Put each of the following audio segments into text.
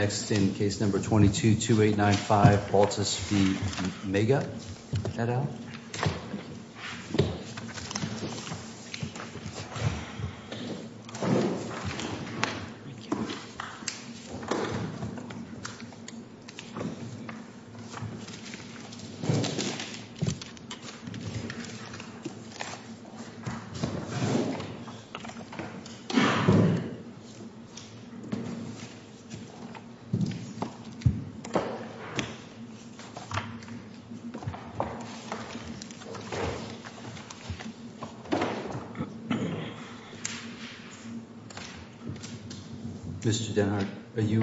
Next in case number 22-2895, Baltas v. Maiga, that out. Mr. Dennard, are you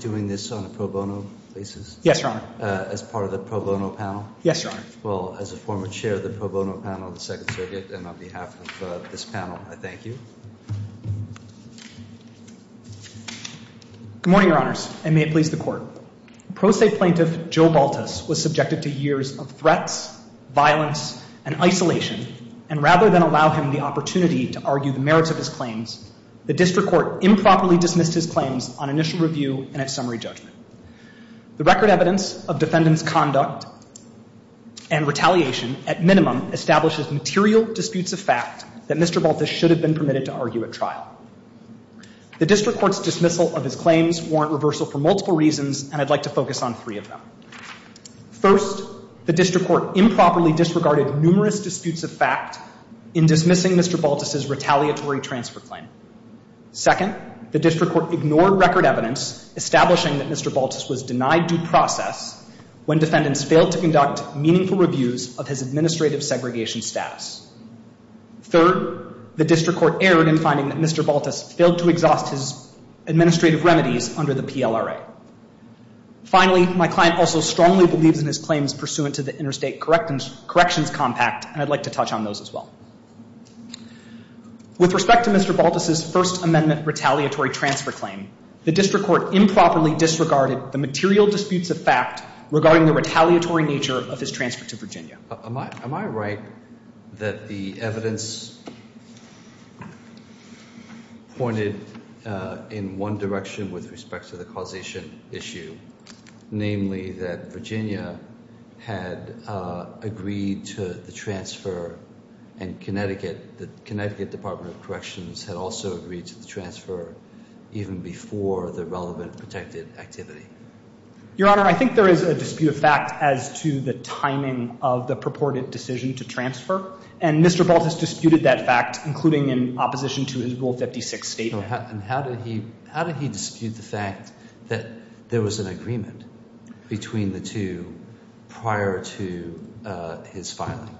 doing this on a pro bono basis? Yes, Your Honor. As part of the pro bono panel? Yes, Your Honor. Well, as a former chair of the pro bono panel of the Second Circuit, and on behalf of this panel, I thank you. Good morning, Your Honors, and may it please the Court. Pro se plaintiff Joe Baltas was subjected to years of threats, violence, and isolation, and rather than allow him the opportunity to argue the merits of his claims, the district court improperly dismissed his claims on initial review and at summary judgment. The record evidence of defendant's conduct and retaliation, at minimum, establishes material disputes of fact that Mr. Baltas should have been permitted to argue at trial. The district court's dismissal of his claims warrant reversal for multiple reasons, and I'd like to focus on three of them. First, the district court improperly disregarded numerous disputes of fact in dismissing Mr. Baltas's retaliatory transfer claim. Second, the district court ignored record evidence establishing that Mr. Baltas was denied due process when defendants failed to conduct meaningful reviews of his administrative segregation status. Third, the district court erred in finding that Mr. Baltas failed to exhaust his administrative remedies under the PLRA. Finally, my client also strongly believes in his claims pursuant to the Interstate Corrections Compact, and I'd like to touch on those as well. With respect to Mr. Baltas's First Amendment retaliatory transfer claim, the district court improperly disregarded the material disputes of fact regarding the retaliatory nature of his transfer to Virginia. Am I right that the evidence pointed in one direction with respect to the causation issue, namely that Virginia had agreed to the transfer and Connecticut, the Connecticut Department of Corrections had also agreed to the transfer even before the relevant protected activity? Your Honor, I think there is a dispute of fact as to the timing of the purported decision to transfer, and Mr. Baltas disputed that fact, including in opposition to his Rule 56 statement. And how did he dispute the fact that there was an agreement between the two prior to his filing?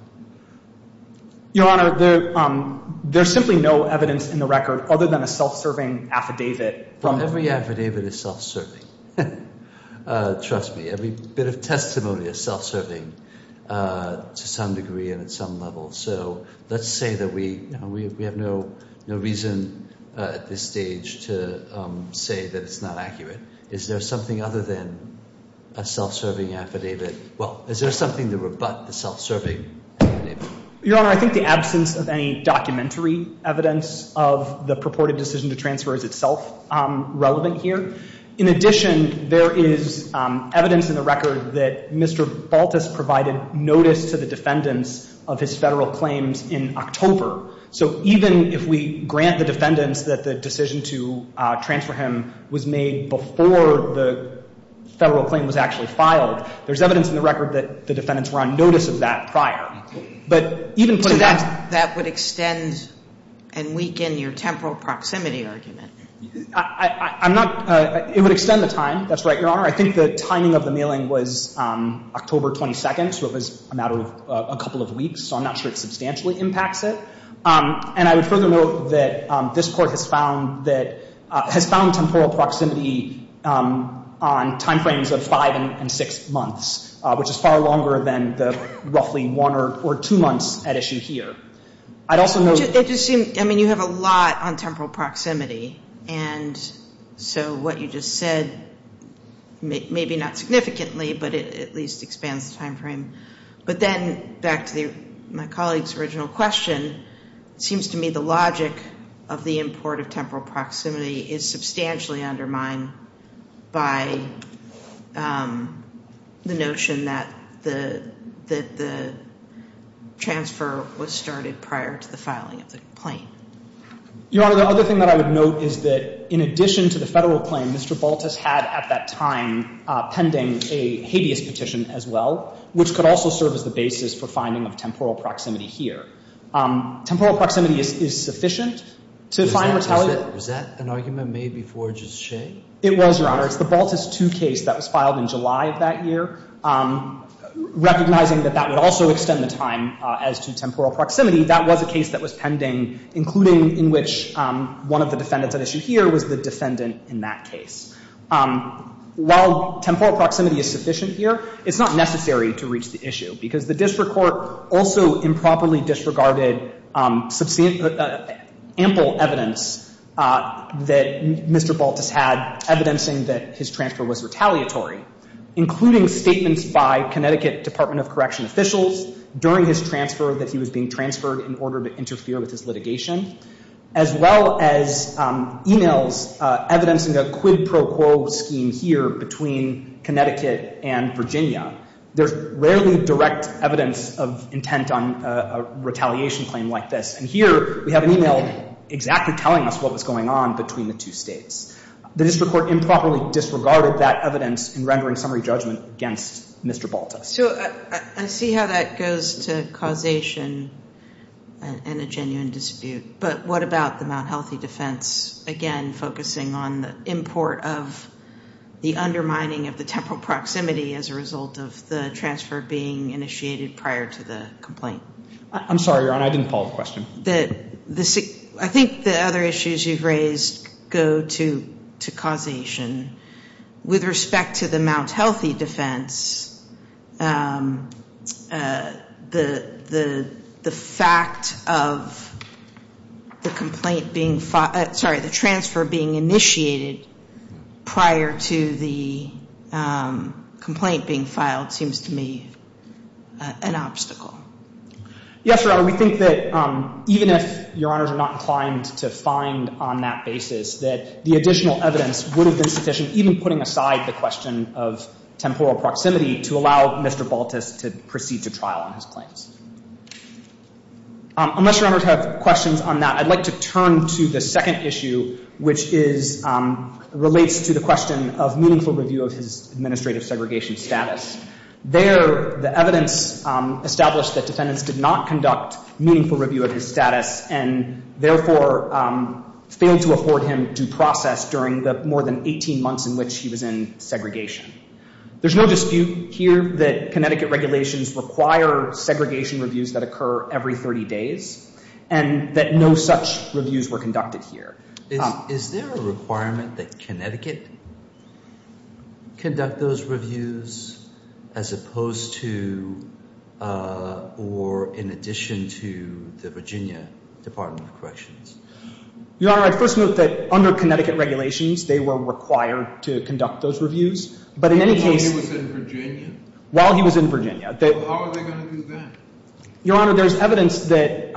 Your Honor, there's simply no evidence in the record other than a self-serving affidavit from him. Every affidavit is self-serving. Trust me, every bit of testimony is self-serving to some degree and at some level. So let's say that we have no reason at this stage to say that it's not accurate. Is there something other than a self-serving affidavit? Well, is there something to rebut the self-serving affidavit? Your Honor, I think the absence of any documentary evidence of the purported decision to transfer is itself relevant here. In addition, there is evidence in the record that Mr. Baltas provided notice to the defendants of his Federal claims in October. So even if we grant the defendants that the decision to transfer him was made before the Federal claim was actually filed, there's evidence in the record that the defendants were on notice of that prior. But even putting that aside — So that would extend and weaken your temporal proximity argument? I'm not — it would extend the time. That's right, Your Honor. I think the timing of the mailing was October 22nd. So it was a matter of a couple of weeks. So I'm not sure it substantially impacts it. And I would further note that this Court has found temporal proximity on timeframes of five and six months, which is far longer than the roughly one or two months at issue here. I'd also note — It just seems — I mean, you have a lot on temporal proximity. And so what you just said, maybe not significantly, but it at least expands the timeframe. But then back to my colleague's original question, it seems to me the logic of the import of temporal proximity is substantially undermined by the notion that the transfer was started prior to the filing of the complaint. Your Honor, the other thing that I would note is that in addition to the Federal claim, Mr. Baltus had at that time pending a habeas petition as well, which could also serve as the basis for finding of temporal proximity here. Temporal proximity is sufficient to find retaliation. Was that an argument made before Judge Shea? It was, Your Honor. It's the Baltus II case that was filed in July of that year. Recognizing that that would also extend the time as to temporal proximity, that was a case that was pending, including in which one of the defendants at issue here was the defendant in that case. While temporal proximity is sufficient here, it's not necessary to reach the issue because the district court also improperly disregarded ample evidence that Mr. Baltus had, evidencing that his transfer was retaliatory, including statements by Connecticut Department of Correction officials during his transfer that he was being transferred in order to interfere with his litigation, as well as emails evidencing a quid pro quo scheme here between Connecticut and Virginia. There's rarely direct evidence of intent on a retaliation claim like this. And here we have an email exactly telling us what was going on between the two states. The district court improperly disregarded that evidence in rendering summary judgment against Mr. Baltus. So I see how that goes to causation and a genuine dispute. But what about the Mount Healthy defense, again, focusing on the import of the undermining of the temporal proximity as a result of the transfer being initiated prior to the complaint? I'm sorry, Your Honor. I didn't follow the question. I think the other issues you've raised go to causation. With respect to the Mount Healthy defense, the fact of the complaint being filed sorry, the transfer being initiated prior to the complaint being filed seems to me an obstacle. Yes, Your Honor. We think that even if Your Honors are not inclined to find on that basis, that the additional evidence would have been sufficient, even putting aside the question of temporal proximity to allow Mr. Baltus to proceed to trial on his claims. Unless Your Honors have questions on that, I'd like to turn to the second issue, which relates to the question of meaningful review of his administrative segregation status. There, the evidence established that defendants did not conduct meaningful review of his process during the more than 18 months in which he was in segregation. There's no dispute here that Connecticut regulations require segregation reviews that occur every 30 days, and that no such reviews were conducted here. Is there a requirement that Connecticut conduct those reviews as opposed to, or in addition to, the Virginia Department of Corrections? Your Honor, I'd first note that under Connecticut regulations, they were required to conduct those reviews, but in any case While he was in Virginia? While he was in Virginia. How are they going to do that? Your Honor, there's evidence that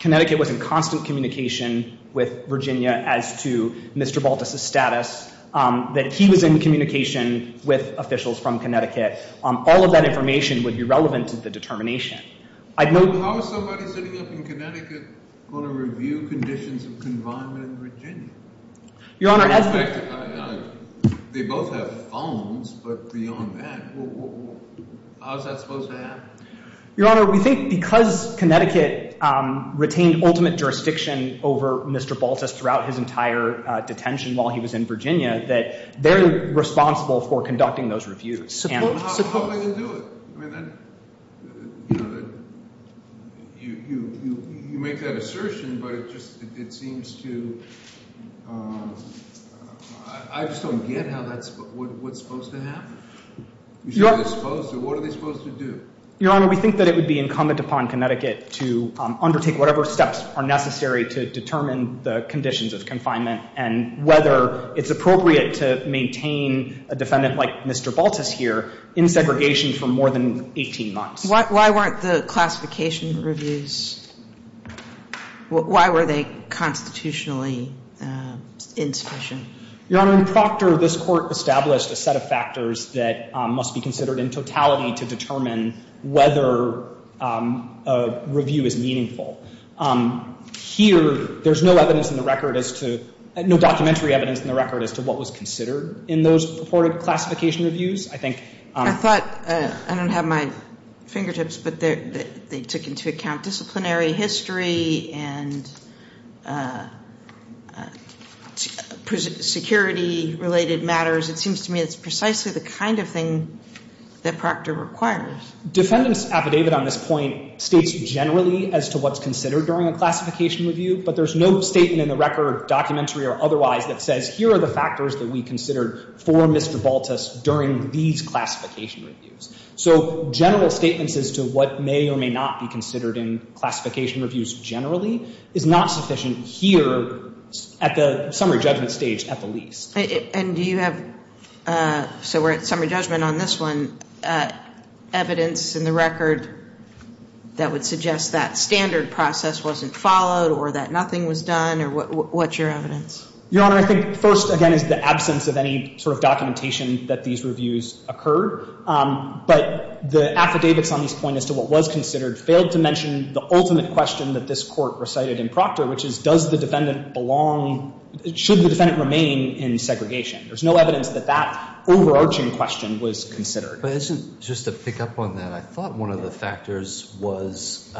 Connecticut was in constant communication with Virginia as to Mr. Baltus' status, that he was in communication with officials from Connecticut. All of that information would be relevant to the determination. How is somebody sitting up in Connecticut going to review conditions of confinement in Virginia? Your Honor, as the They both have phones, but beyond that, how is that supposed to happen? Your Honor, we think because Connecticut retained ultimate jurisdiction over Mr. Baltus throughout his entire detention while he was in Virginia, that they're responsible for conducting those reviews. How are they going to do it? You make that assertion, but it seems to I just don't get what's supposed to happen. What are they supposed to do? Your Honor, we think that it would be incumbent upon Connecticut to undertake whatever steps are necessary to determine the conditions of confinement and whether it's appropriate to maintain a defendant like Mr. Baltus here in segregation for more than 18 months. Why weren't the classification reviews Why were they constitutionally insufficient? Your Honor, in Proctor, this Court established a set of factors that must be considered in totality to determine whether a review is meaningful. Here, there's no evidence in the record as to no documentary evidence in the record as to what was considered in those purported classification reviews. I thought, I don't have my fingertips, but they took into account disciplinary history and security-related matters. It seems to me it's precisely the kind of thing that Proctor requires. Defendant's affidavit on this point states generally as to what's considered during a classification review, but there's no statement in the record, documentary or otherwise, that says here are the factors that we considered for Mr. Baltus during these classification reviews. So general statements as to what may or may not be considered in classification reviews generally is not sufficient here at the summary judgment stage at the least. And do you have, so we're at summary judgment on this one, evidence in the record that would suggest that standard process wasn't followed or that nothing was done? Or what's your evidence? Your Honor, I think first, again, is the absence of any sort of documentation that these reviews occurred. But the affidavits on this point as to what was considered failed to mention the ultimate question that this Court recited in Proctor, which is, does the defendant belong, should the defendant remain in segregation? There's no evidence that that overarching question was considered. But isn't, just to pick up on that, I thought one of the factors was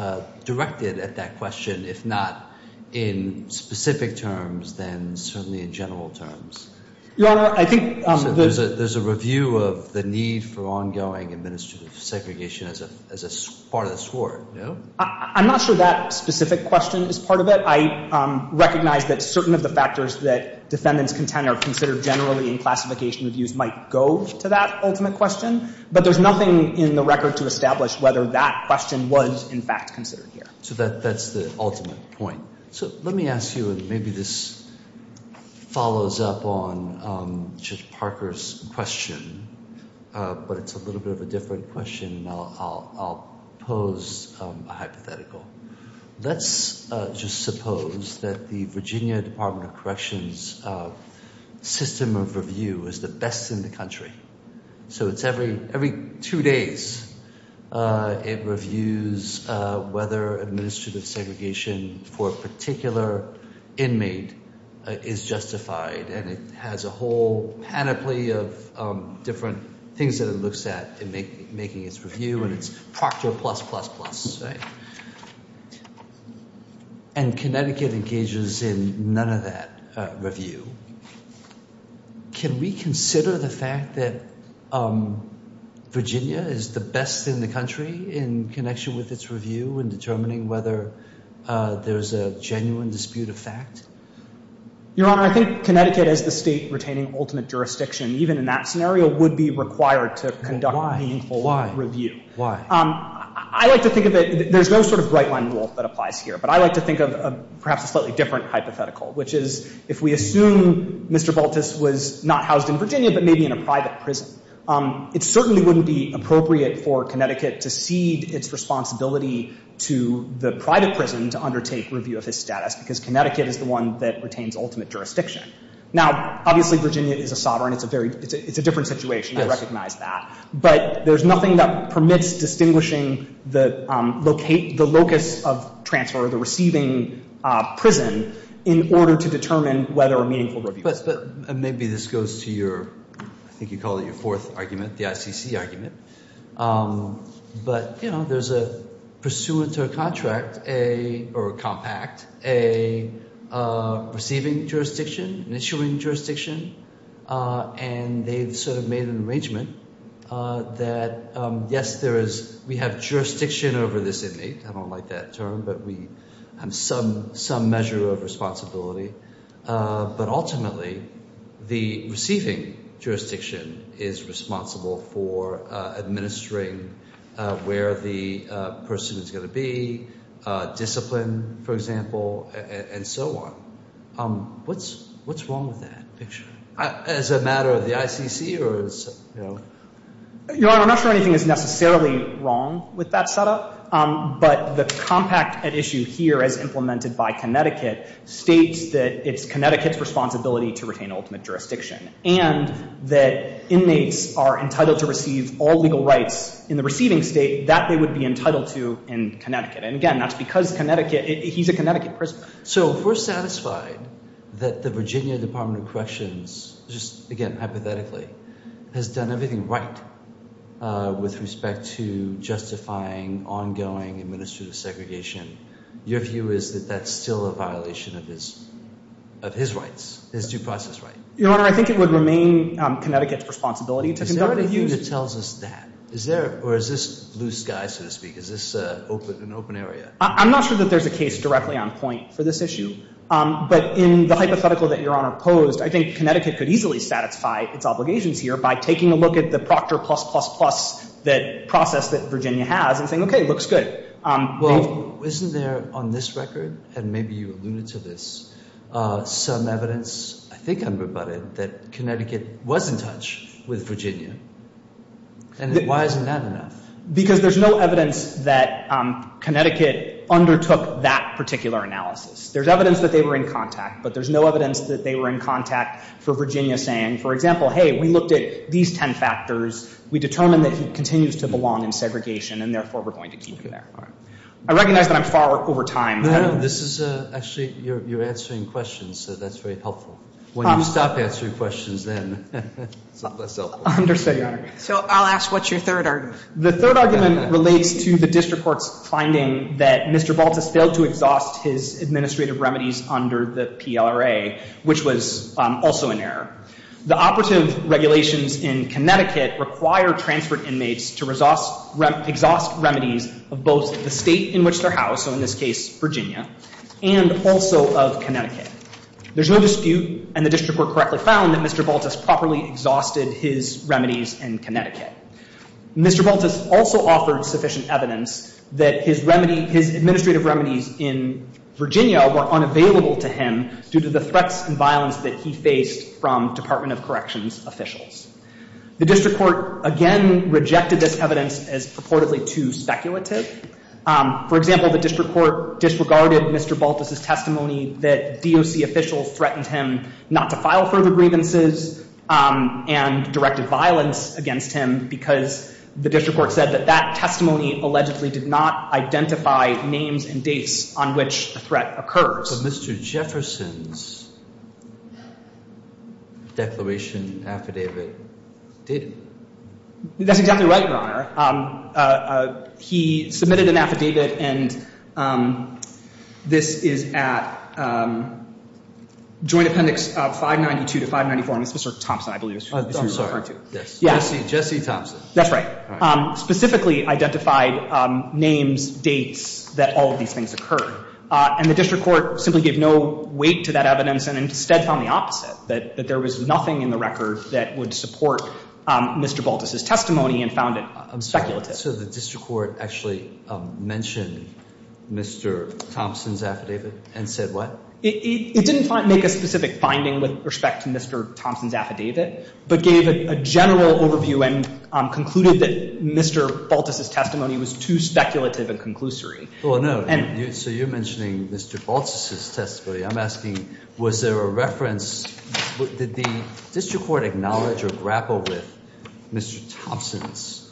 directed at that question, if not in specific terms, then certainly in general terms. Your Honor, I think there's a review of the need for ongoing administrative segregation as a part of the score. I'm not sure that specific question is part of it. I recognize that certain of the factors that defendants contend are considered generally in classification reviews might go to that ultimate question. But there's nothing in the record to establish whether that question was, in fact, considered here. So that's the ultimate point. So let me ask you, and maybe this follows up on Judge Parker's question, but it's a little bit of a different question, and I'll pose a hypothetical. Let's just suppose that the Virginia Department of Corrections system of review is the best in the country. So it's every two days it reviews whether administrative segregation for a particular inmate is justified. And it has a whole panoply of different things that it looks at in making its review, and it's Procter plus plus plus, right? And Connecticut engages in none of that review. Can we consider the fact that Virginia is the best in the country in connection with its review in determining whether there's a genuine dispute of fact? Your Honor, I think Connecticut as the state retaining ultimate jurisdiction, even in that scenario, would be required to conduct meaningful review. Why? Why? I like to think of it, there's no sort of right-line rule that applies here, but I like to think of perhaps a slightly different hypothetical, which is if we assume Mr. Baltus was not housed in Virginia but maybe in a private prison, it certainly wouldn't be appropriate for Connecticut to cede its responsibility to the private prison to undertake review of his status, because Connecticut is the one that retains ultimate jurisdiction. Now, obviously, Virginia is a sovereign. It's a different situation. I recognize that. But there's nothing that permits distinguishing the locus of transfer or the receiving prison in order to determine whether a meaningful review occurred. But maybe this goes to your, I think you call it your fourth argument, the ICC argument. But, you know, there's a pursuant to a contract, or a compact, a receiving jurisdiction, an issuing jurisdiction, and they've sort of made an arrangement that, yes, we have jurisdiction over this inmate. I don't like that term, but we have some measure of responsibility. But ultimately, the receiving jurisdiction is responsible for administering where the pursuant is going to be, discipline, for example, and so on. What's wrong with that picture? Is it a matter of the ICC or is it, you know? Your Honor, I'm not sure anything is necessarily wrong with that setup. But the compact at issue here, as implemented by Connecticut, states that it's Connecticut's responsibility to retain ultimate jurisdiction and that inmates are entitled to receive all legal rights in the receiving state that they would be entitled to in Connecticut. And, again, that's because Connecticut, he's a Connecticut prisoner. So if we're satisfied that the Virginia Department of Corrections just, again, hypothetically, has done everything right with respect to justifying ongoing administrative segregation, your view is that that's still a violation of his rights, his due process rights? Your Honor, I think it would remain Connecticut's responsibility to conduct reviews. Is there anything that tells us that? Or is this blue sky, so to speak? Is this an open area? I'm not sure that there's a case directly on point for this issue. But in the hypothetical that your Honor posed, I think Connecticut could easily satisfy its obligations here by taking a look at the Proctor plus, plus, plus process that Virginia has and saying, okay, looks good. Well, isn't there on this record, and maybe you alluded to this, some evidence, I think I'm rebutted, that Connecticut was in touch with Virginia? And why isn't that enough? Because there's no evidence that Connecticut undertook that particular analysis. There's evidence that they were in contact, but there's no evidence that they were in contact for Virginia saying, for example, hey, we looked at these ten factors, we determined that he continues to belong in segregation, and therefore we're going to keep him there. I recognize that I'm far over time. No, this is actually, you're answering questions, so that's very helpful. When you stop answering questions then, it's a lot less helpful. I understand, Your Honor. So I'll ask, what's your third argument? The third argument relates to the district court's finding that Mr. Baltus failed to exhaust his administrative remedies under the PLRA, which was also an error. The operative regulations in Connecticut require transferred inmates to exhaust remedies of both the state in which they're housed, so in this case, Virginia, and also of Connecticut. There's no dispute, and the district court correctly found, that Mr. Baltus properly exhausted his remedies in Connecticut. Mr. Baltus also offered sufficient evidence that his administrative remedies in Virginia were unavailable to him due to the threats and violence that he faced from Department of Corrections officials. The district court, again, rejected this evidence as purportedly too speculative. For example, the district court disregarded Mr. Baltus' testimony that DOC officials threatened him not to file further grievances and directed violence against him because the district court said that that testimony allegedly did not identify names and dates on which the threat occurs. But Mr. Jefferson's declaration affidavit didn't. That's exactly right, Your Honor. He submitted an affidavit, and this is at Joint Appendix 592-594, and this is Mr. Thompson, I believe, is who you're referring to. Yes. Jesse Thompson. That's right. Specifically identified names, dates that all of these things occurred, and the district court simply gave no weight to that evidence and instead found the opposite, that there was nothing in the record that would support Mr. Baltus' testimony and found it speculative. I'm sorry. So the district court actually mentioned Mr. Thompson's affidavit and said what? It didn't make a specific finding with respect to Mr. Thompson's affidavit but gave a general overview and concluded that Mr. Baltus' testimony was too speculative and conclusory. Well, no. So you're mentioning Mr. Baltus' testimony. I'm asking, was there a reference? Did the district court acknowledge or grapple with Mr. Thompson's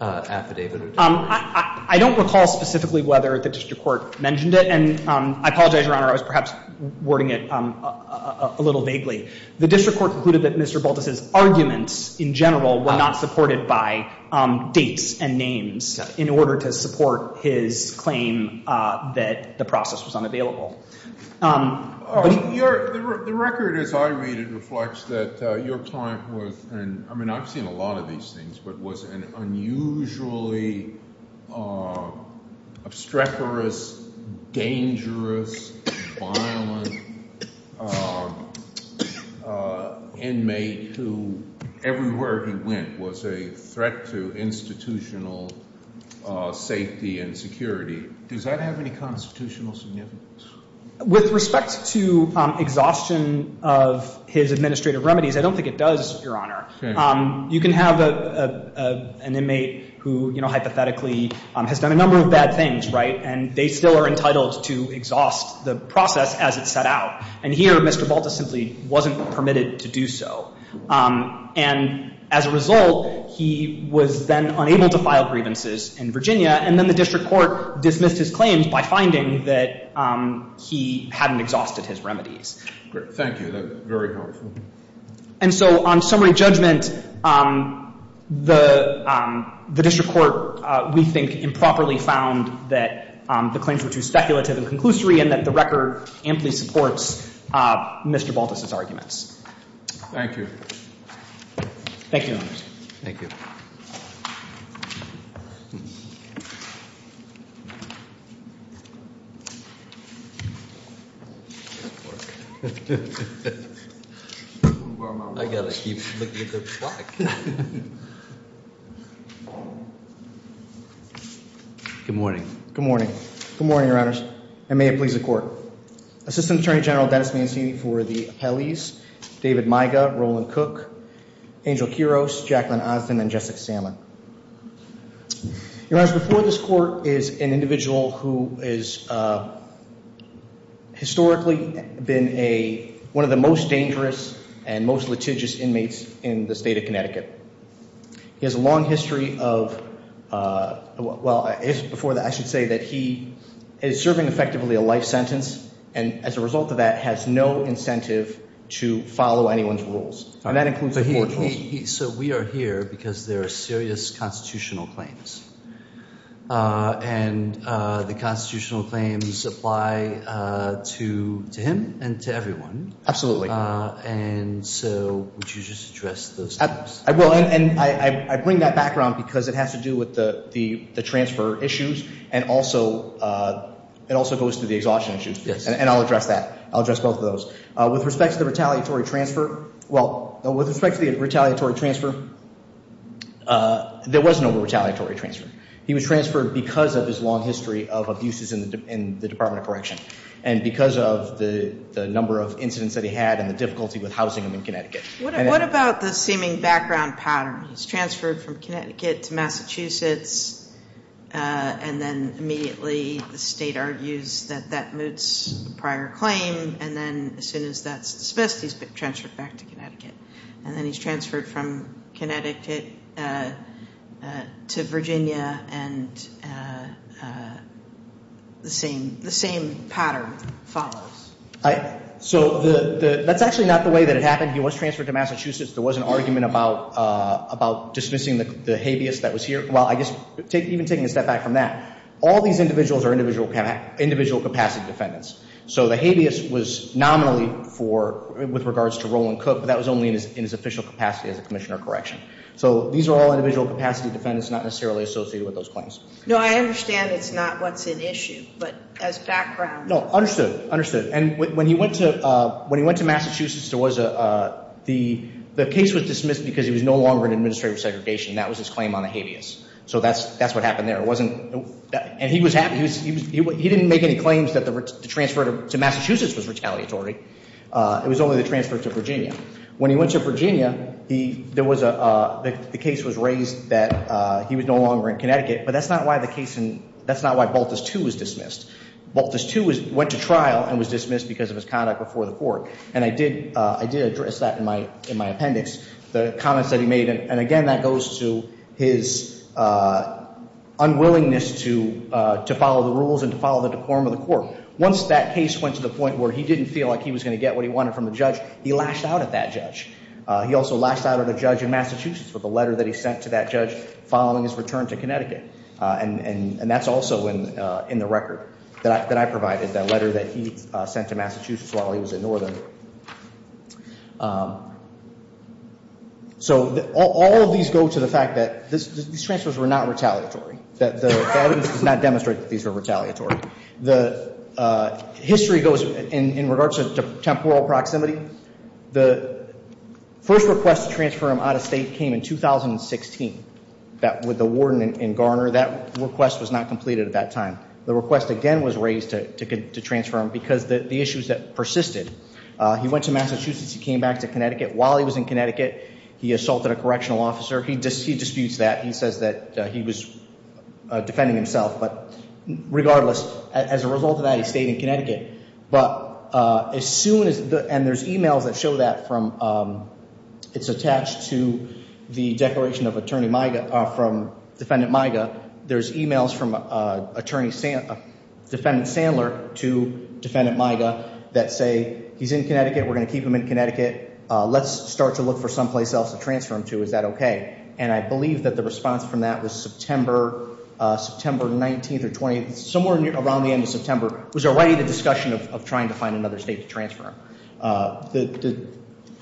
affidavit? I don't recall specifically whether the district court mentioned it, and I apologize, Your Honor, I was perhaps wording it a little vaguely. The district court concluded that Mr. Baltus' arguments in general were not supported by dates and names in order to support his claim that the process was unavailable. The record, as I read it, reflects that your client was, I mean I've seen a lot of these things, but was an unusually obstreperous, dangerous, violent inmate who everywhere he went was a threat to institutional safety and security. Does that have any constitutional significance? With respect to exhaustion of his administrative remedies, I don't think it does, Your Honor. You can have an inmate who hypothetically has done a number of bad things, right, and they still are entitled to exhaust the process as it set out, and here Mr. Baltus simply wasn't permitted to do so. And as a result, he was then unable to file grievances in Virginia, and then the district court dismissed his claims by finding that he hadn't exhausted his remedies. Thank you. That's very helpful. And so on summary judgment, the district court, we think, improperly found that the claims were too speculative and conclusory and that the record amply supports Mr. Baltus' arguments. Thank you. Thank you, Your Honor. Thank you. Thank you. Good morning. Good morning. Good morning, Your Honors, and may it please the court. Assistant Attorney General Dennis Mancini for the appellees, David Miga, Roland Cook, Angel Quiros, Jacqueline Osden, and Jessica Sandlin. Your Honor, before this court is an individual who has historically been a, one of the most dangerous and most litigious inmates in the state of Connecticut. He has a long history of, well, I should say that he is serving effectively a life sentence, and as a result of that has no incentive to follow anyone's rules, and that includes the court rules. So we are here because there are serious constitutional claims, and the constitutional claims apply to him and to everyone. Absolutely. And so would you just address those claims? I will, and I bring that background because it has to do with the transfer issues and also goes to the exhaustion issues, and I'll address that. I'll address both of those. With respect to the retaliatory transfer, well, with respect to the retaliatory transfer, there was no retaliatory transfer. He was transferred because of his long history of abuses in the Department of Correction, and because of the number of incidents that he had and the difficulty with housing him in Connecticut. What about the seeming background pattern? He's transferred from Connecticut to Massachusetts, and then immediately the state argues that that moots the prior claim, and then as soon as that's dismissed, he's been transferred back to Connecticut. And then he's transferred from Connecticut to Virginia, and the same pattern follows. So that's actually not the way that it happened. He was transferred to Massachusetts. There was an argument about dismissing the habeas that was here. Well, I guess even taking a step back from that, all these individuals are individual capacity defendants. So the habeas was nominally with regards to Roland Cook, but that was only in his official capacity as a commissioner of correction. So these are all individual capacity defendants, not necessarily associated with those claims. No, I understand it's not what's at issue, but as background. No, understood. Understood. And when he went to Massachusetts, the case was dismissed because he was no longer in administrative segregation. That was his claim on the habeas. So that's what happened there. And he didn't make any claims that the transfer to Massachusetts was retaliatory. It was only the transfer to Virginia. When he went to Virginia, the case was raised that he was no longer in Connecticut, but that's not why Baltus II was dismissed. Baltus II went to trial and was dismissed because of his conduct before the court. And I did address that in my appendix, the comments that he made. And, again, that goes to his unwillingness to follow the rules and to follow the decorum of the court. Once that case went to the point where he didn't feel like he was going to get what he wanted from the judge, he lashed out at that judge. He also lashed out at a judge in Massachusetts with a letter that he sent to that judge following his return to Connecticut. And that's also in the record that I provided, that letter that he sent to Massachusetts while he was in Northern. So all of these go to the fact that these transfers were not retaliatory, that the evidence does not demonstrate that these were retaliatory. The history goes in regards to temporal proximity. The first request to transfer him out of state came in 2016 with the warden in Garner. That request was not completed at that time. The request again was raised to transfer him because of the issues that persisted. He went to Massachusetts. He came back to Connecticut. While he was in Connecticut, he assaulted a correctional officer. He disputes that. He says that he was defending himself. But regardless, as a result of that, he stayed in Connecticut. But as soon as the end, there's e-mails that show that from, it's attached to the declaration of attorney, from Defendant Miga. There's e-mails from Defendant Sandler to Defendant Miga that say he's in Connecticut. We're going to keep him in Connecticut. Let's start to look for someplace else to transfer him to. Is that okay? And I believe that the response from that was September 19th or 20th, somewhere around the end of September, was already the discussion of trying to find another state to transfer him.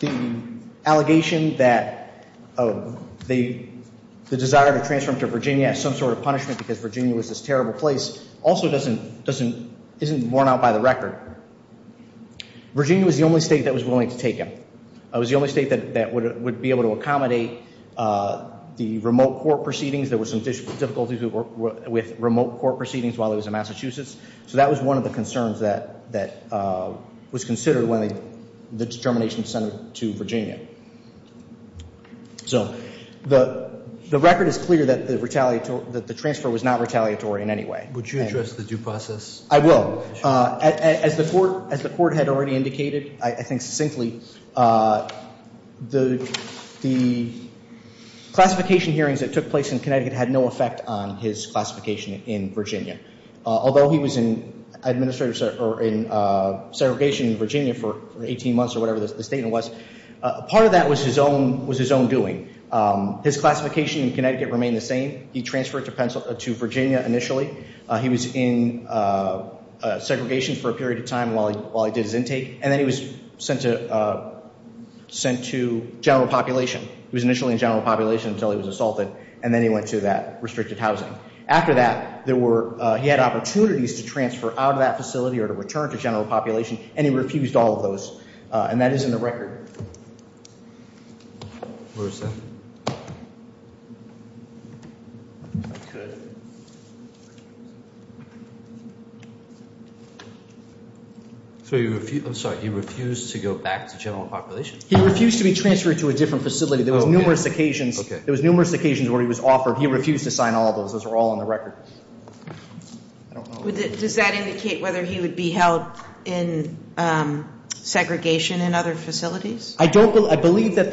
The allegation that the desire to transfer him to Virginia as some sort of punishment because Virginia was this terrible place also isn't worn out by the record. Virginia was the only state that was willing to take him. It was the only state that would be able to accommodate the remote court proceedings. There were some difficulties with remote court proceedings while he was in Massachusetts. So that was one of the concerns that was considered when the determination was sent to Virginia. So the record is clear that the transfer was not retaliatory in any way. Would you address the due process? I will. As the court had already indicated, I think succinctly, the classification hearings that took place in Connecticut had no effect on his classification in Virginia. Although he was in segregation in Virginia for 18 months or whatever the statement was, part of that was his own doing. His classification in Connecticut remained the same. He transferred to Virginia initially. He was in segregation for a period of time while he did his intake, and then he was sent to general population. He was initially in general population until he was assaulted, and then he went to that restricted housing. After that, he had opportunities to transfer out of that facility or to return to general population, and he refused all of those, and that is in the record. Where is that? I could. I'm sorry. He refused to go back to general population? He refused to be transferred to a different facility. There were numerous occasions where he was offered. He refused to sign all of those. Those are all in the record. Does that indicate whether he would be held in segregation in other facilities? I believe that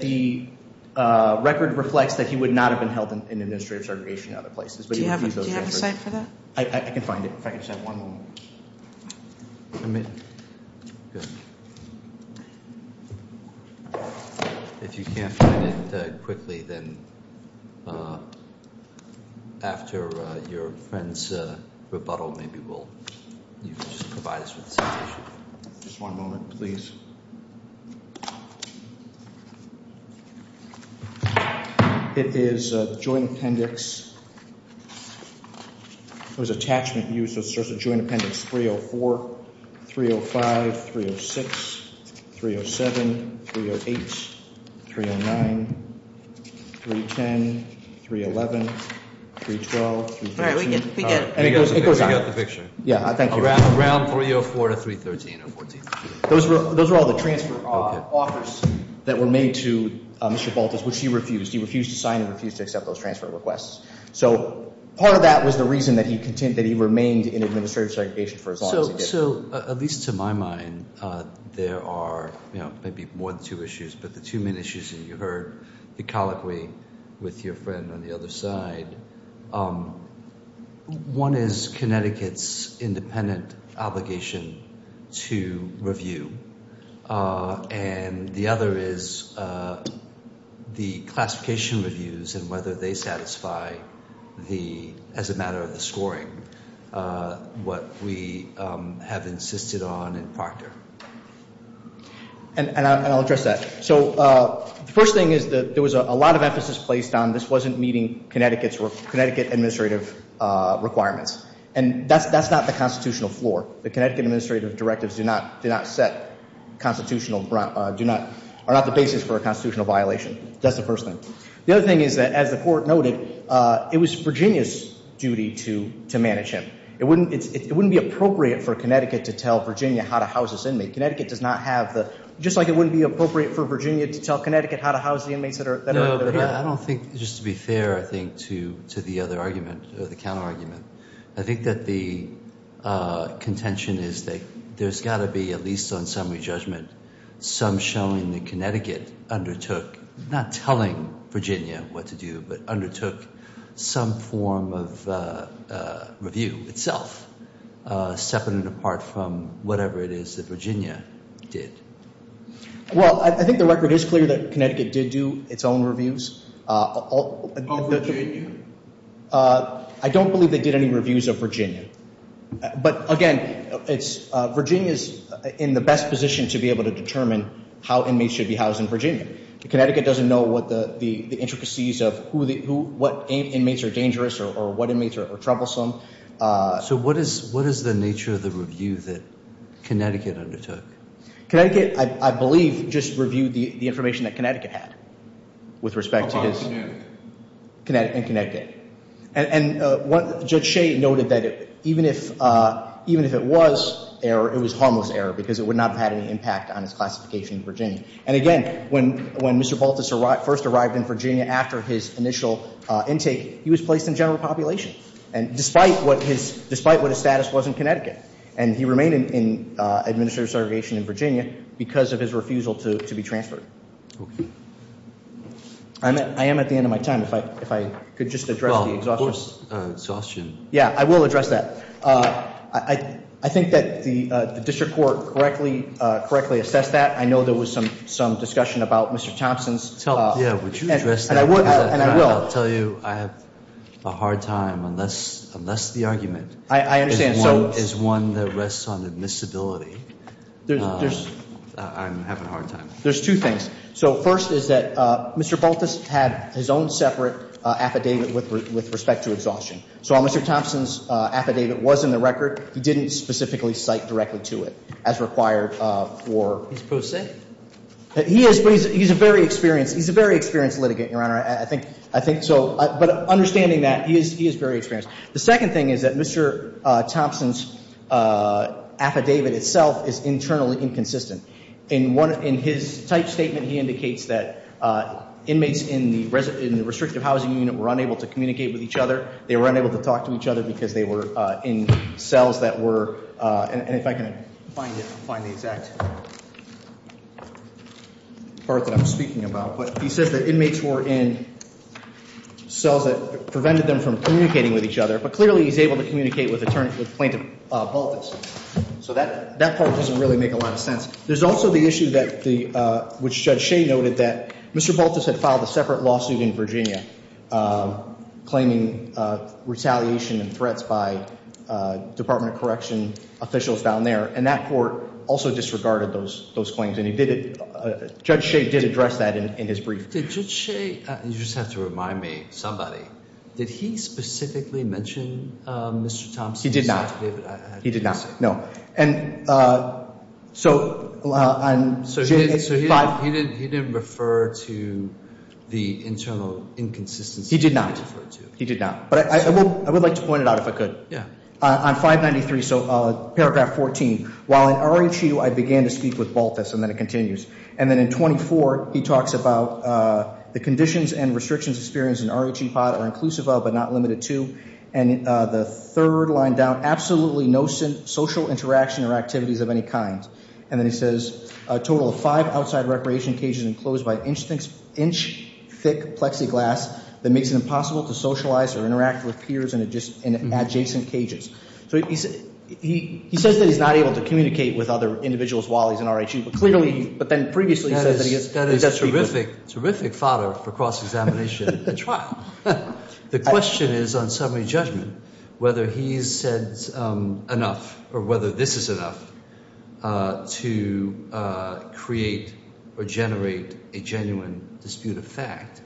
the record reflects that he would not have been held in administrative segregation in other places. Do you have a cite for that? I can find it. If I could just have one moment. Good. If you can't find it quickly, then after your friend's rebuttal, maybe you can just provide us with citation. Just one moment, please. It is a joint appendix. It was attachment used as a joint appendix 304, 305, 306, 307, 308, 309, 310, 311, 312, 313. All right. We get it. We got the picture. Thank you. Around 304 to 313 or 314. Those are all the transfer offers that were made to Mr. Baltus, which he refused. He refused to sign and refused to accept those transfer requests. So part of that was the reason that he remained in administrative segregation for as long as he did. So at least to my mind, there are maybe more than two issues. But the two main issues that you heard, the colloquy with your friend on the other side, one is Connecticut's independent obligation to review. And the other is the classification reviews and whether they satisfy the, as a matter of the scoring, what we have insisted on in Procter. And I'll address that. So the first thing is that there was a lot of emphasis placed on this wasn't meeting Connecticut's or Connecticut administrative requirements. And that's not the constitutional floor. The Connecticut administrative directives do not set constitutional, are not the basis for a constitutional violation. That's the first thing. The other thing is that, as the court noted, it was Virginia's duty to manage him. It wouldn't be appropriate for Connecticut to tell Virginia how to house this inmate. Connecticut does not have the, just like it wouldn't be appropriate for Virginia to tell Connecticut how to house the inmates that are here. No, but I don't think, just to be fair, I think, to the other argument, the counterargument. I think that the contention is that there's got to be, at least on summary judgment, some showing that Connecticut undertook, not telling Virginia what to do, but undertook some form of review itself, separate and apart from whatever it is that Virginia did. Well, I think the record is clear that Connecticut did do its own reviews. All Virginia? I don't believe they did any reviews of Virginia. But, again, Virginia is in the best position to be able to determine how inmates should be housed in Virginia. Connecticut doesn't know what the intricacies of what inmates are dangerous or what inmates are troublesome. So what is the nature of the review that Connecticut undertook? Connecticut, I believe, just reviewed the information that Connecticut had with respect to his. In Connecticut. And Judge Shea noted that even if it was error, it was harmless error because it would not have had any impact on his classification in Virginia. And, again, when Mr. Baltas first arrived in Virginia after his initial intake, he was placed in general population, despite what his status was in Connecticut. And he remained in administrative segregation in Virginia because of his refusal to be transferred. Okay. I am at the end of my time. If I could just address the exhaustion. Well, of course, exhaustion. Yeah, I will address that. I think that the district court correctly assessed that. I know there was some discussion about Mr. Thompson's. Yeah, would you address that? And I will. I'll tell you I have a hard time unless the argument is one that rests on admissibility. I'm having a hard time. There's two things. So first is that Mr. Baltas had his own separate affidavit with respect to exhaustion. So while Mr. Thompson's affidavit was in the record, he didn't specifically cite directly to it as required for. He's proved safe. He is, but he's a very experienced litigant, Your Honor. I think so. But understanding that, he is very experienced. The second thing is that Mr. Thompson's affidavit itself is internally inconsistent. In his type statement, he indicates that inmates in the restrictive housing unit were unable to communicate with each other. They were unable to talk to each other because they were in cells that were. And if I can find the exact part that I'm speaking about. But he says that inmates were in cells that prevented them from communicating with each other. But clearly he's able to communicate with plaintiff Baltas. So that part doesn't really make a lot of sense. There's also the issue that the, which Judge Shea noted that Mr. Baltas had filed a separate lawsuit in Virginia, claiming retaliation and threats by Department of Correction officials down there. And that court also disregarded those claims. And Judge Shea did address that in his brief. Did Judge Shea, you just have to remind me, somebody. Did he specifically mention Mr. Thompson's affidavit? He did not. He did not. No. So he didn't refer to the internal inconsistency. He did not. He did not. But I would like to point it out if I could. Yeah. On 593, so paragraph 14. While in RHEU, I began to speak with Baltas, and then it continues. And then in 24, he talks about the conditions and restrictions experienced in RHEU pod are inclusive of but not limited to. And the third line down, absolutely no social interaction or activities of any kind. And then he says a total of five outside recreation cages enclosed by inch thick plexiglass that makes it impossible to socialize or interact with peers in adjacent cages. So he says that he's not able to communicate with other individuals while he's in RHEU. But clearly, but then previously said that he gets in touch with people. That is terrific fodder for cross-examination at trial. The question is on summary judgment, whether he's said enough or whether this is enough to create or generate a genuine dispute of fact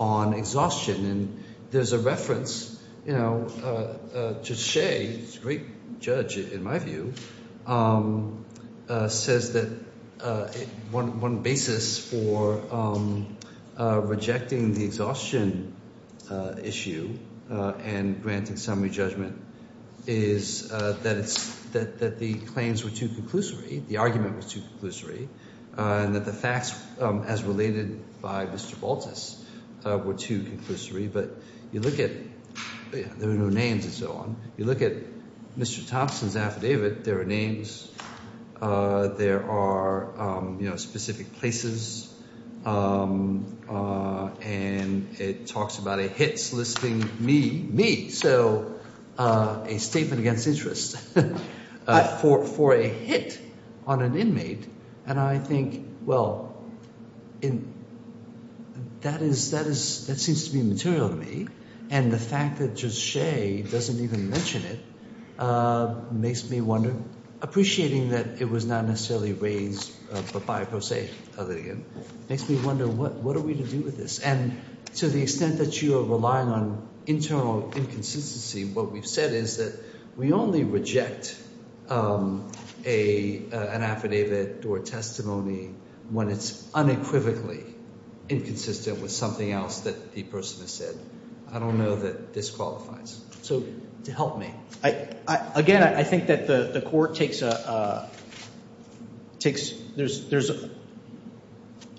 on exhaustion. And there's a reference, you know, to Shea, who's a great judge in my view, says that one basis for rejecting the exhaustion issue and granting summary judgment is that the claims were too conclusory, the argument was too conclusory. And that the facts as related by Mr. Baltus were too conclusory. But you look at, there are no names and so on. You look at Mr. Thompson's affidavit, there are names. There are, you know, specific places. And it talks about a hit soliciting me, me. So a statement against interest for a hit on an inmate. And I think, well, that is, that is, that seems to be material to me. And the fact that just Shea doesn't even mention it makes me wonder, appreciating that it was not necessarily raised by pro se, makes me wonder what are we to do with this? And to the extent that you are relying on internal inconsistency, what we've said is that we only reject an affidavit or testimony when it's unequivocally inconsistent with something else that the person has said. I don't know that this qualifies. So to help me. Again, I think that the court takes, there's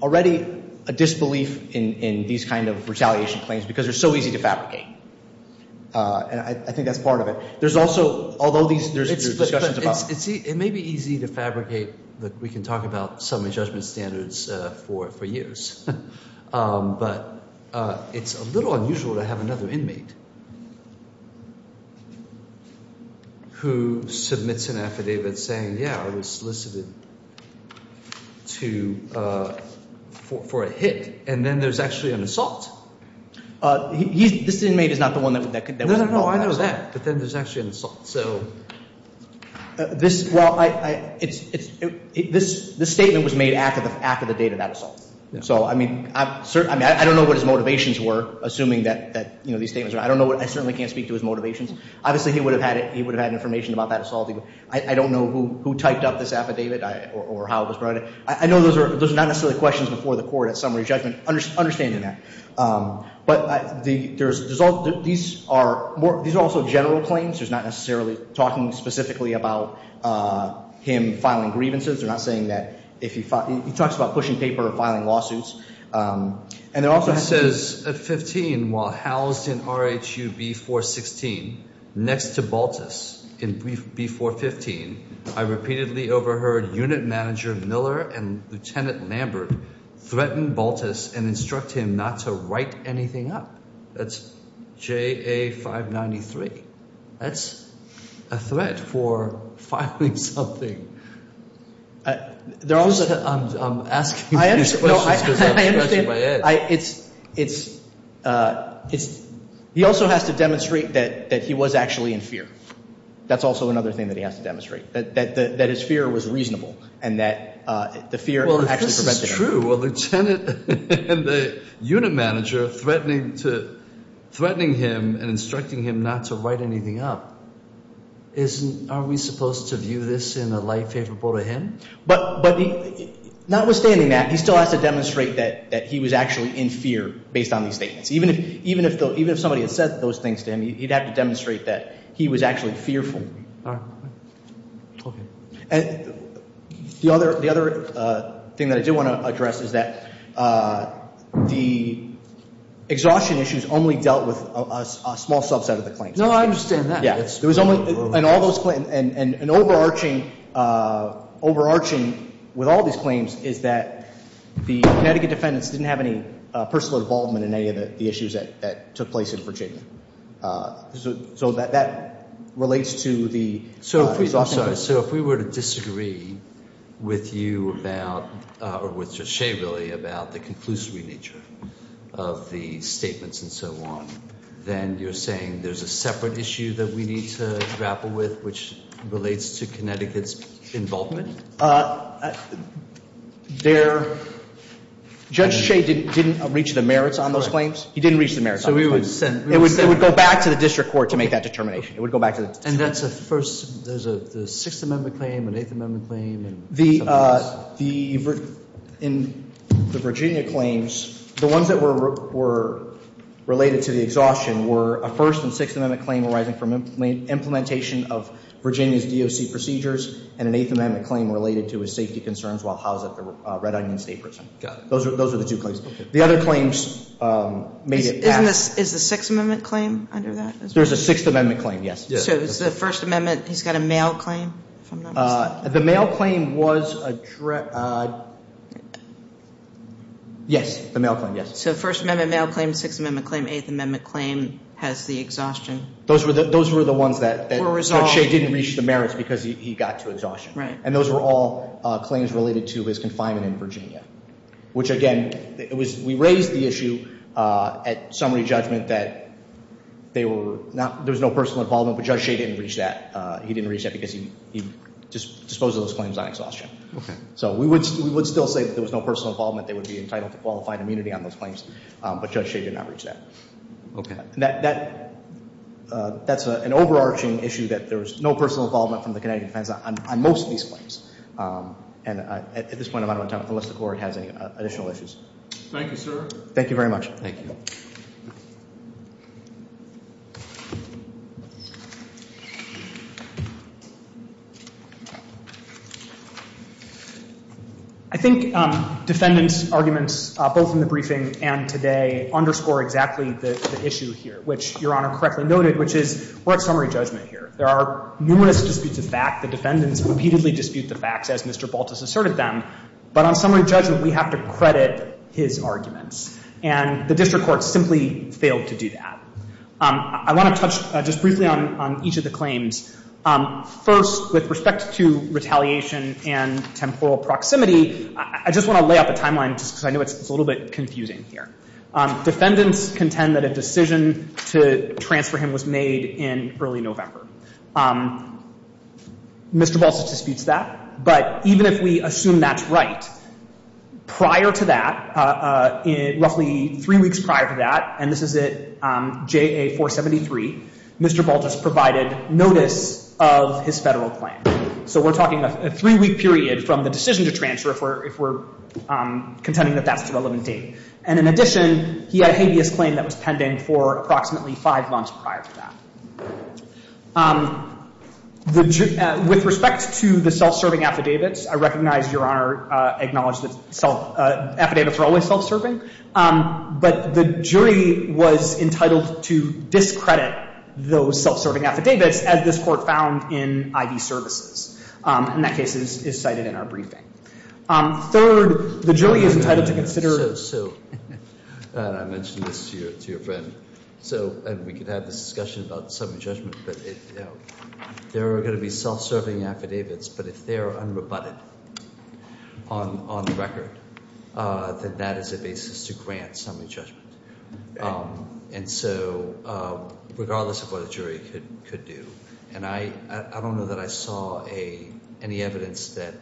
already a disbelief in these kind of retaliation claims because they're so easy to fabricate. And I think that's part of it. There's also, although there's discussions about. It may be easy to fabricate. We can talk about some of the judgment standards for years. But it's a little unusual to have another inmate. Who submits an affidavit saying, yeah, I was solicited. To for a hit. And then there's actually an assault. He's this inmate is not the one that could. No, I know that. But then there's actually an assault. So. This. Well, I. It's. This statement was made after the date of that assault. So, I mean, I don't know what his motivations were, assuming that these statements are. I don't know. I certainly can't speak to his motivations. Obviously, he would have had it. He would have had information about that assault. I don't know who typed up this affidavit or how it was brought. I know those are not necessarily questions before the court at summary judgment. Understanding that. But these are also general claims. There's not necessarily talking specifically about him filing grievances. They're not saying that if he talks about pushing paper or filing lawsuits. And it also says at 15, while housed in R.H.U. B416 next to Baltus in B415. I repeatedly overheard unit manager Miller and Lieutenant Lambert threaten Baltus and instruct him not to write anything up. That's J.A. 593. That's a threat for filing something. I'm asking these questions because I'm scratching my head. He also has to demonstrate that he was actually in fear. That's also another thing that he has to demonstrate. That his fear was reasonable and that the fear actually prevented him. That's not true. A lieutenant and the unit manager threatening him and instructing him not to write anything up. Aren't we supposed to view this in a light favorable to him? But notwithstanding that, he still has to demonstrate that he was actually in fear based on these statements. Even if somebody had said those things to him, he'd have to demonstrate that he was actually fearful. And the other thing that I do want to address is that the exhaustion issues only dealt with a small subset of the claims. No, I understand that. Yeah. It was only in all those claims. And overarching with all these claims is that the Connecticut defendants didn't have any personal involvement in any of the issues that took place in Virginia. So that relates to the exhaustion. I'm sorry. So if we were to disagree with you about or with Judge Shea really about the conclusive nature of the statements and so on, then you're saying there's a separate issue that we need to grapple with which relates to Connecticut's involvement? Judge Shea didn't reach the merits on those claims. He didn't reach the merits on those claims. So we would send It would go back to the district court to make that determination. It would go back to the district court. And that's a first. There's a Sixth Amendment claim, an Eighth Amendment claim. The Virginia claims, the ones that were related to the exhaustion were a First and Sixth Amendment claim arising from implementation of Virginia's DOC procedures and an Eighth Amendment claim related to his safety concerns while housed at the Red Onion State Prison. Those are the two claims. The other claims made it Is the Sixth Amendment claim under that? There's a Sixth Amendment claim, yes. So it's the First Amendment. He's got a mail claim. The mail claim was addressed. Yes, the mail claim, yes. So First Amendment mail claim, Sixth Amendment claim, Eighth Amendment claim has the exhaustion. Those were the ones that Judge Shea didn't reach the merits because he got to exhaustion. Right. And those were all claims related to his confinement in Virginia, which, again, we raised the issue at summary judgment that there was no personal involvement, but Judge Shea didn't reach that. He didn't reach that because he disposed of those claims on exhaustion. Okay. So we would still say that there was no personal involvement. They would be entitled to qualified immunity on those claims, but Judge Shea did not reach that. Okay. That's an overarching issue that there was no personal involvement from the Connecticut defense on most of these claims. And at this point, I'm out of time unless the Court has any additional issues. Thank you, sir. Thank you very much. Thank you. I think defendants' arguments, both in the briefing and today, underscore exactly the issue here, which Your Honor correctly noted, which is we're at summary judgment here. There are numerous disputes of fact. The defendants repeatedly dispute the facts, as Mr. Baltus asserted them. But on summary judgment, we have to credit his arguments. And the district court simply failed to do that. I want to touch just briefly on each of the claims. First, with respect to retaliation and temporal proximity, I just want to lay out the timeline just because I know it's a little bit confusing here. Defendants contend that a decision to transfer him was made in early November. Mr. Baltus disputes that. But even if we assume that's right, prior to that, roughly three weeks prior to that, and this is at JA-473, Mr. Baltus provided notice of his Federal plan. So we're talking a three-week period from the decision to transfer if we're contending that that's the relevant date. And in addition, he had a habeas claim that was pending for approximately five months prior to that. With respect to the self-serving affidavits, I recognize Your Honor acknowledged that affidavits are always self-serving. But the jury was entitled to discredit those self-serving affidavits, as this Court found in IV services. And that case is cited in our briefing. Third, the jury is entitled to consider- So, and I mentioned this to your friend. So, and we could have this discussion about summary judgment, but there are going to be self-serving affidavits. But if they are unrebutted on the record, then that is a basis to grant summary judgment. And so, regardless of what a jury could do. And I don't know that I saw any evidence that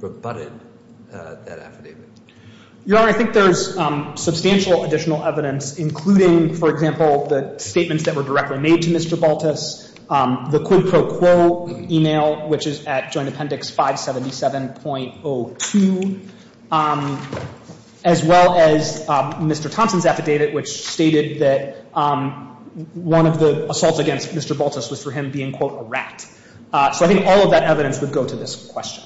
rebutted that affidavit. Your Honor, I think there's substantial additional evidence, including, for example, the statements that were directly made to Mr. Baltus, the quid pro quo email, which is at Joint Appendix 577.02, as well as Mr. Thompson's affidavit, which stated that one of the assaults against Mr. Baltus was for him being, quote, a rat. So, I think all of that evidence would go to this question.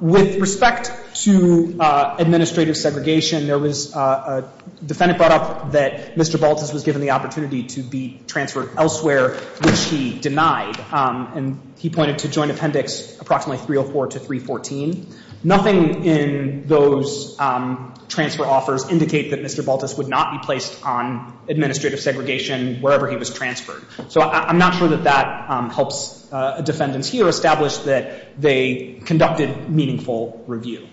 With respect to administrative segregation, there was a defendant brought up that Mr. Baltus was given the opportunity to be transferred elsewhere, which he denied. And he pointed to Joint Appendix approximately 304 to 314. Nothing in those transfer offers indicate that Mr. Baltus would not be placed on administrative segregation wherever he was transferred. So, I'm not sure that that helps defendants here establish that they conducted meaningful review.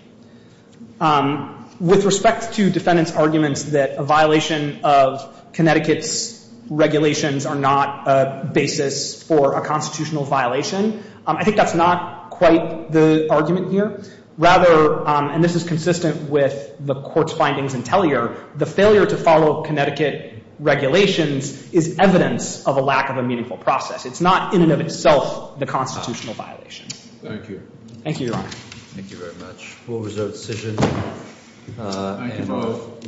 With respect to defendants' arguments that a violation of Connecticut's regulations are not a basis for a constitutional violation, I think that's not quite the argument here. Rather, and this is consistent with the Court's findings in Tellier, the failure to follow Connecticut regulations is evidence of a lack of a meaningful process. It's not, in and of itself, the constitutional violation. Thank you. Thank you, Your Honor. Thank you very much. Full result decision. Thank you both.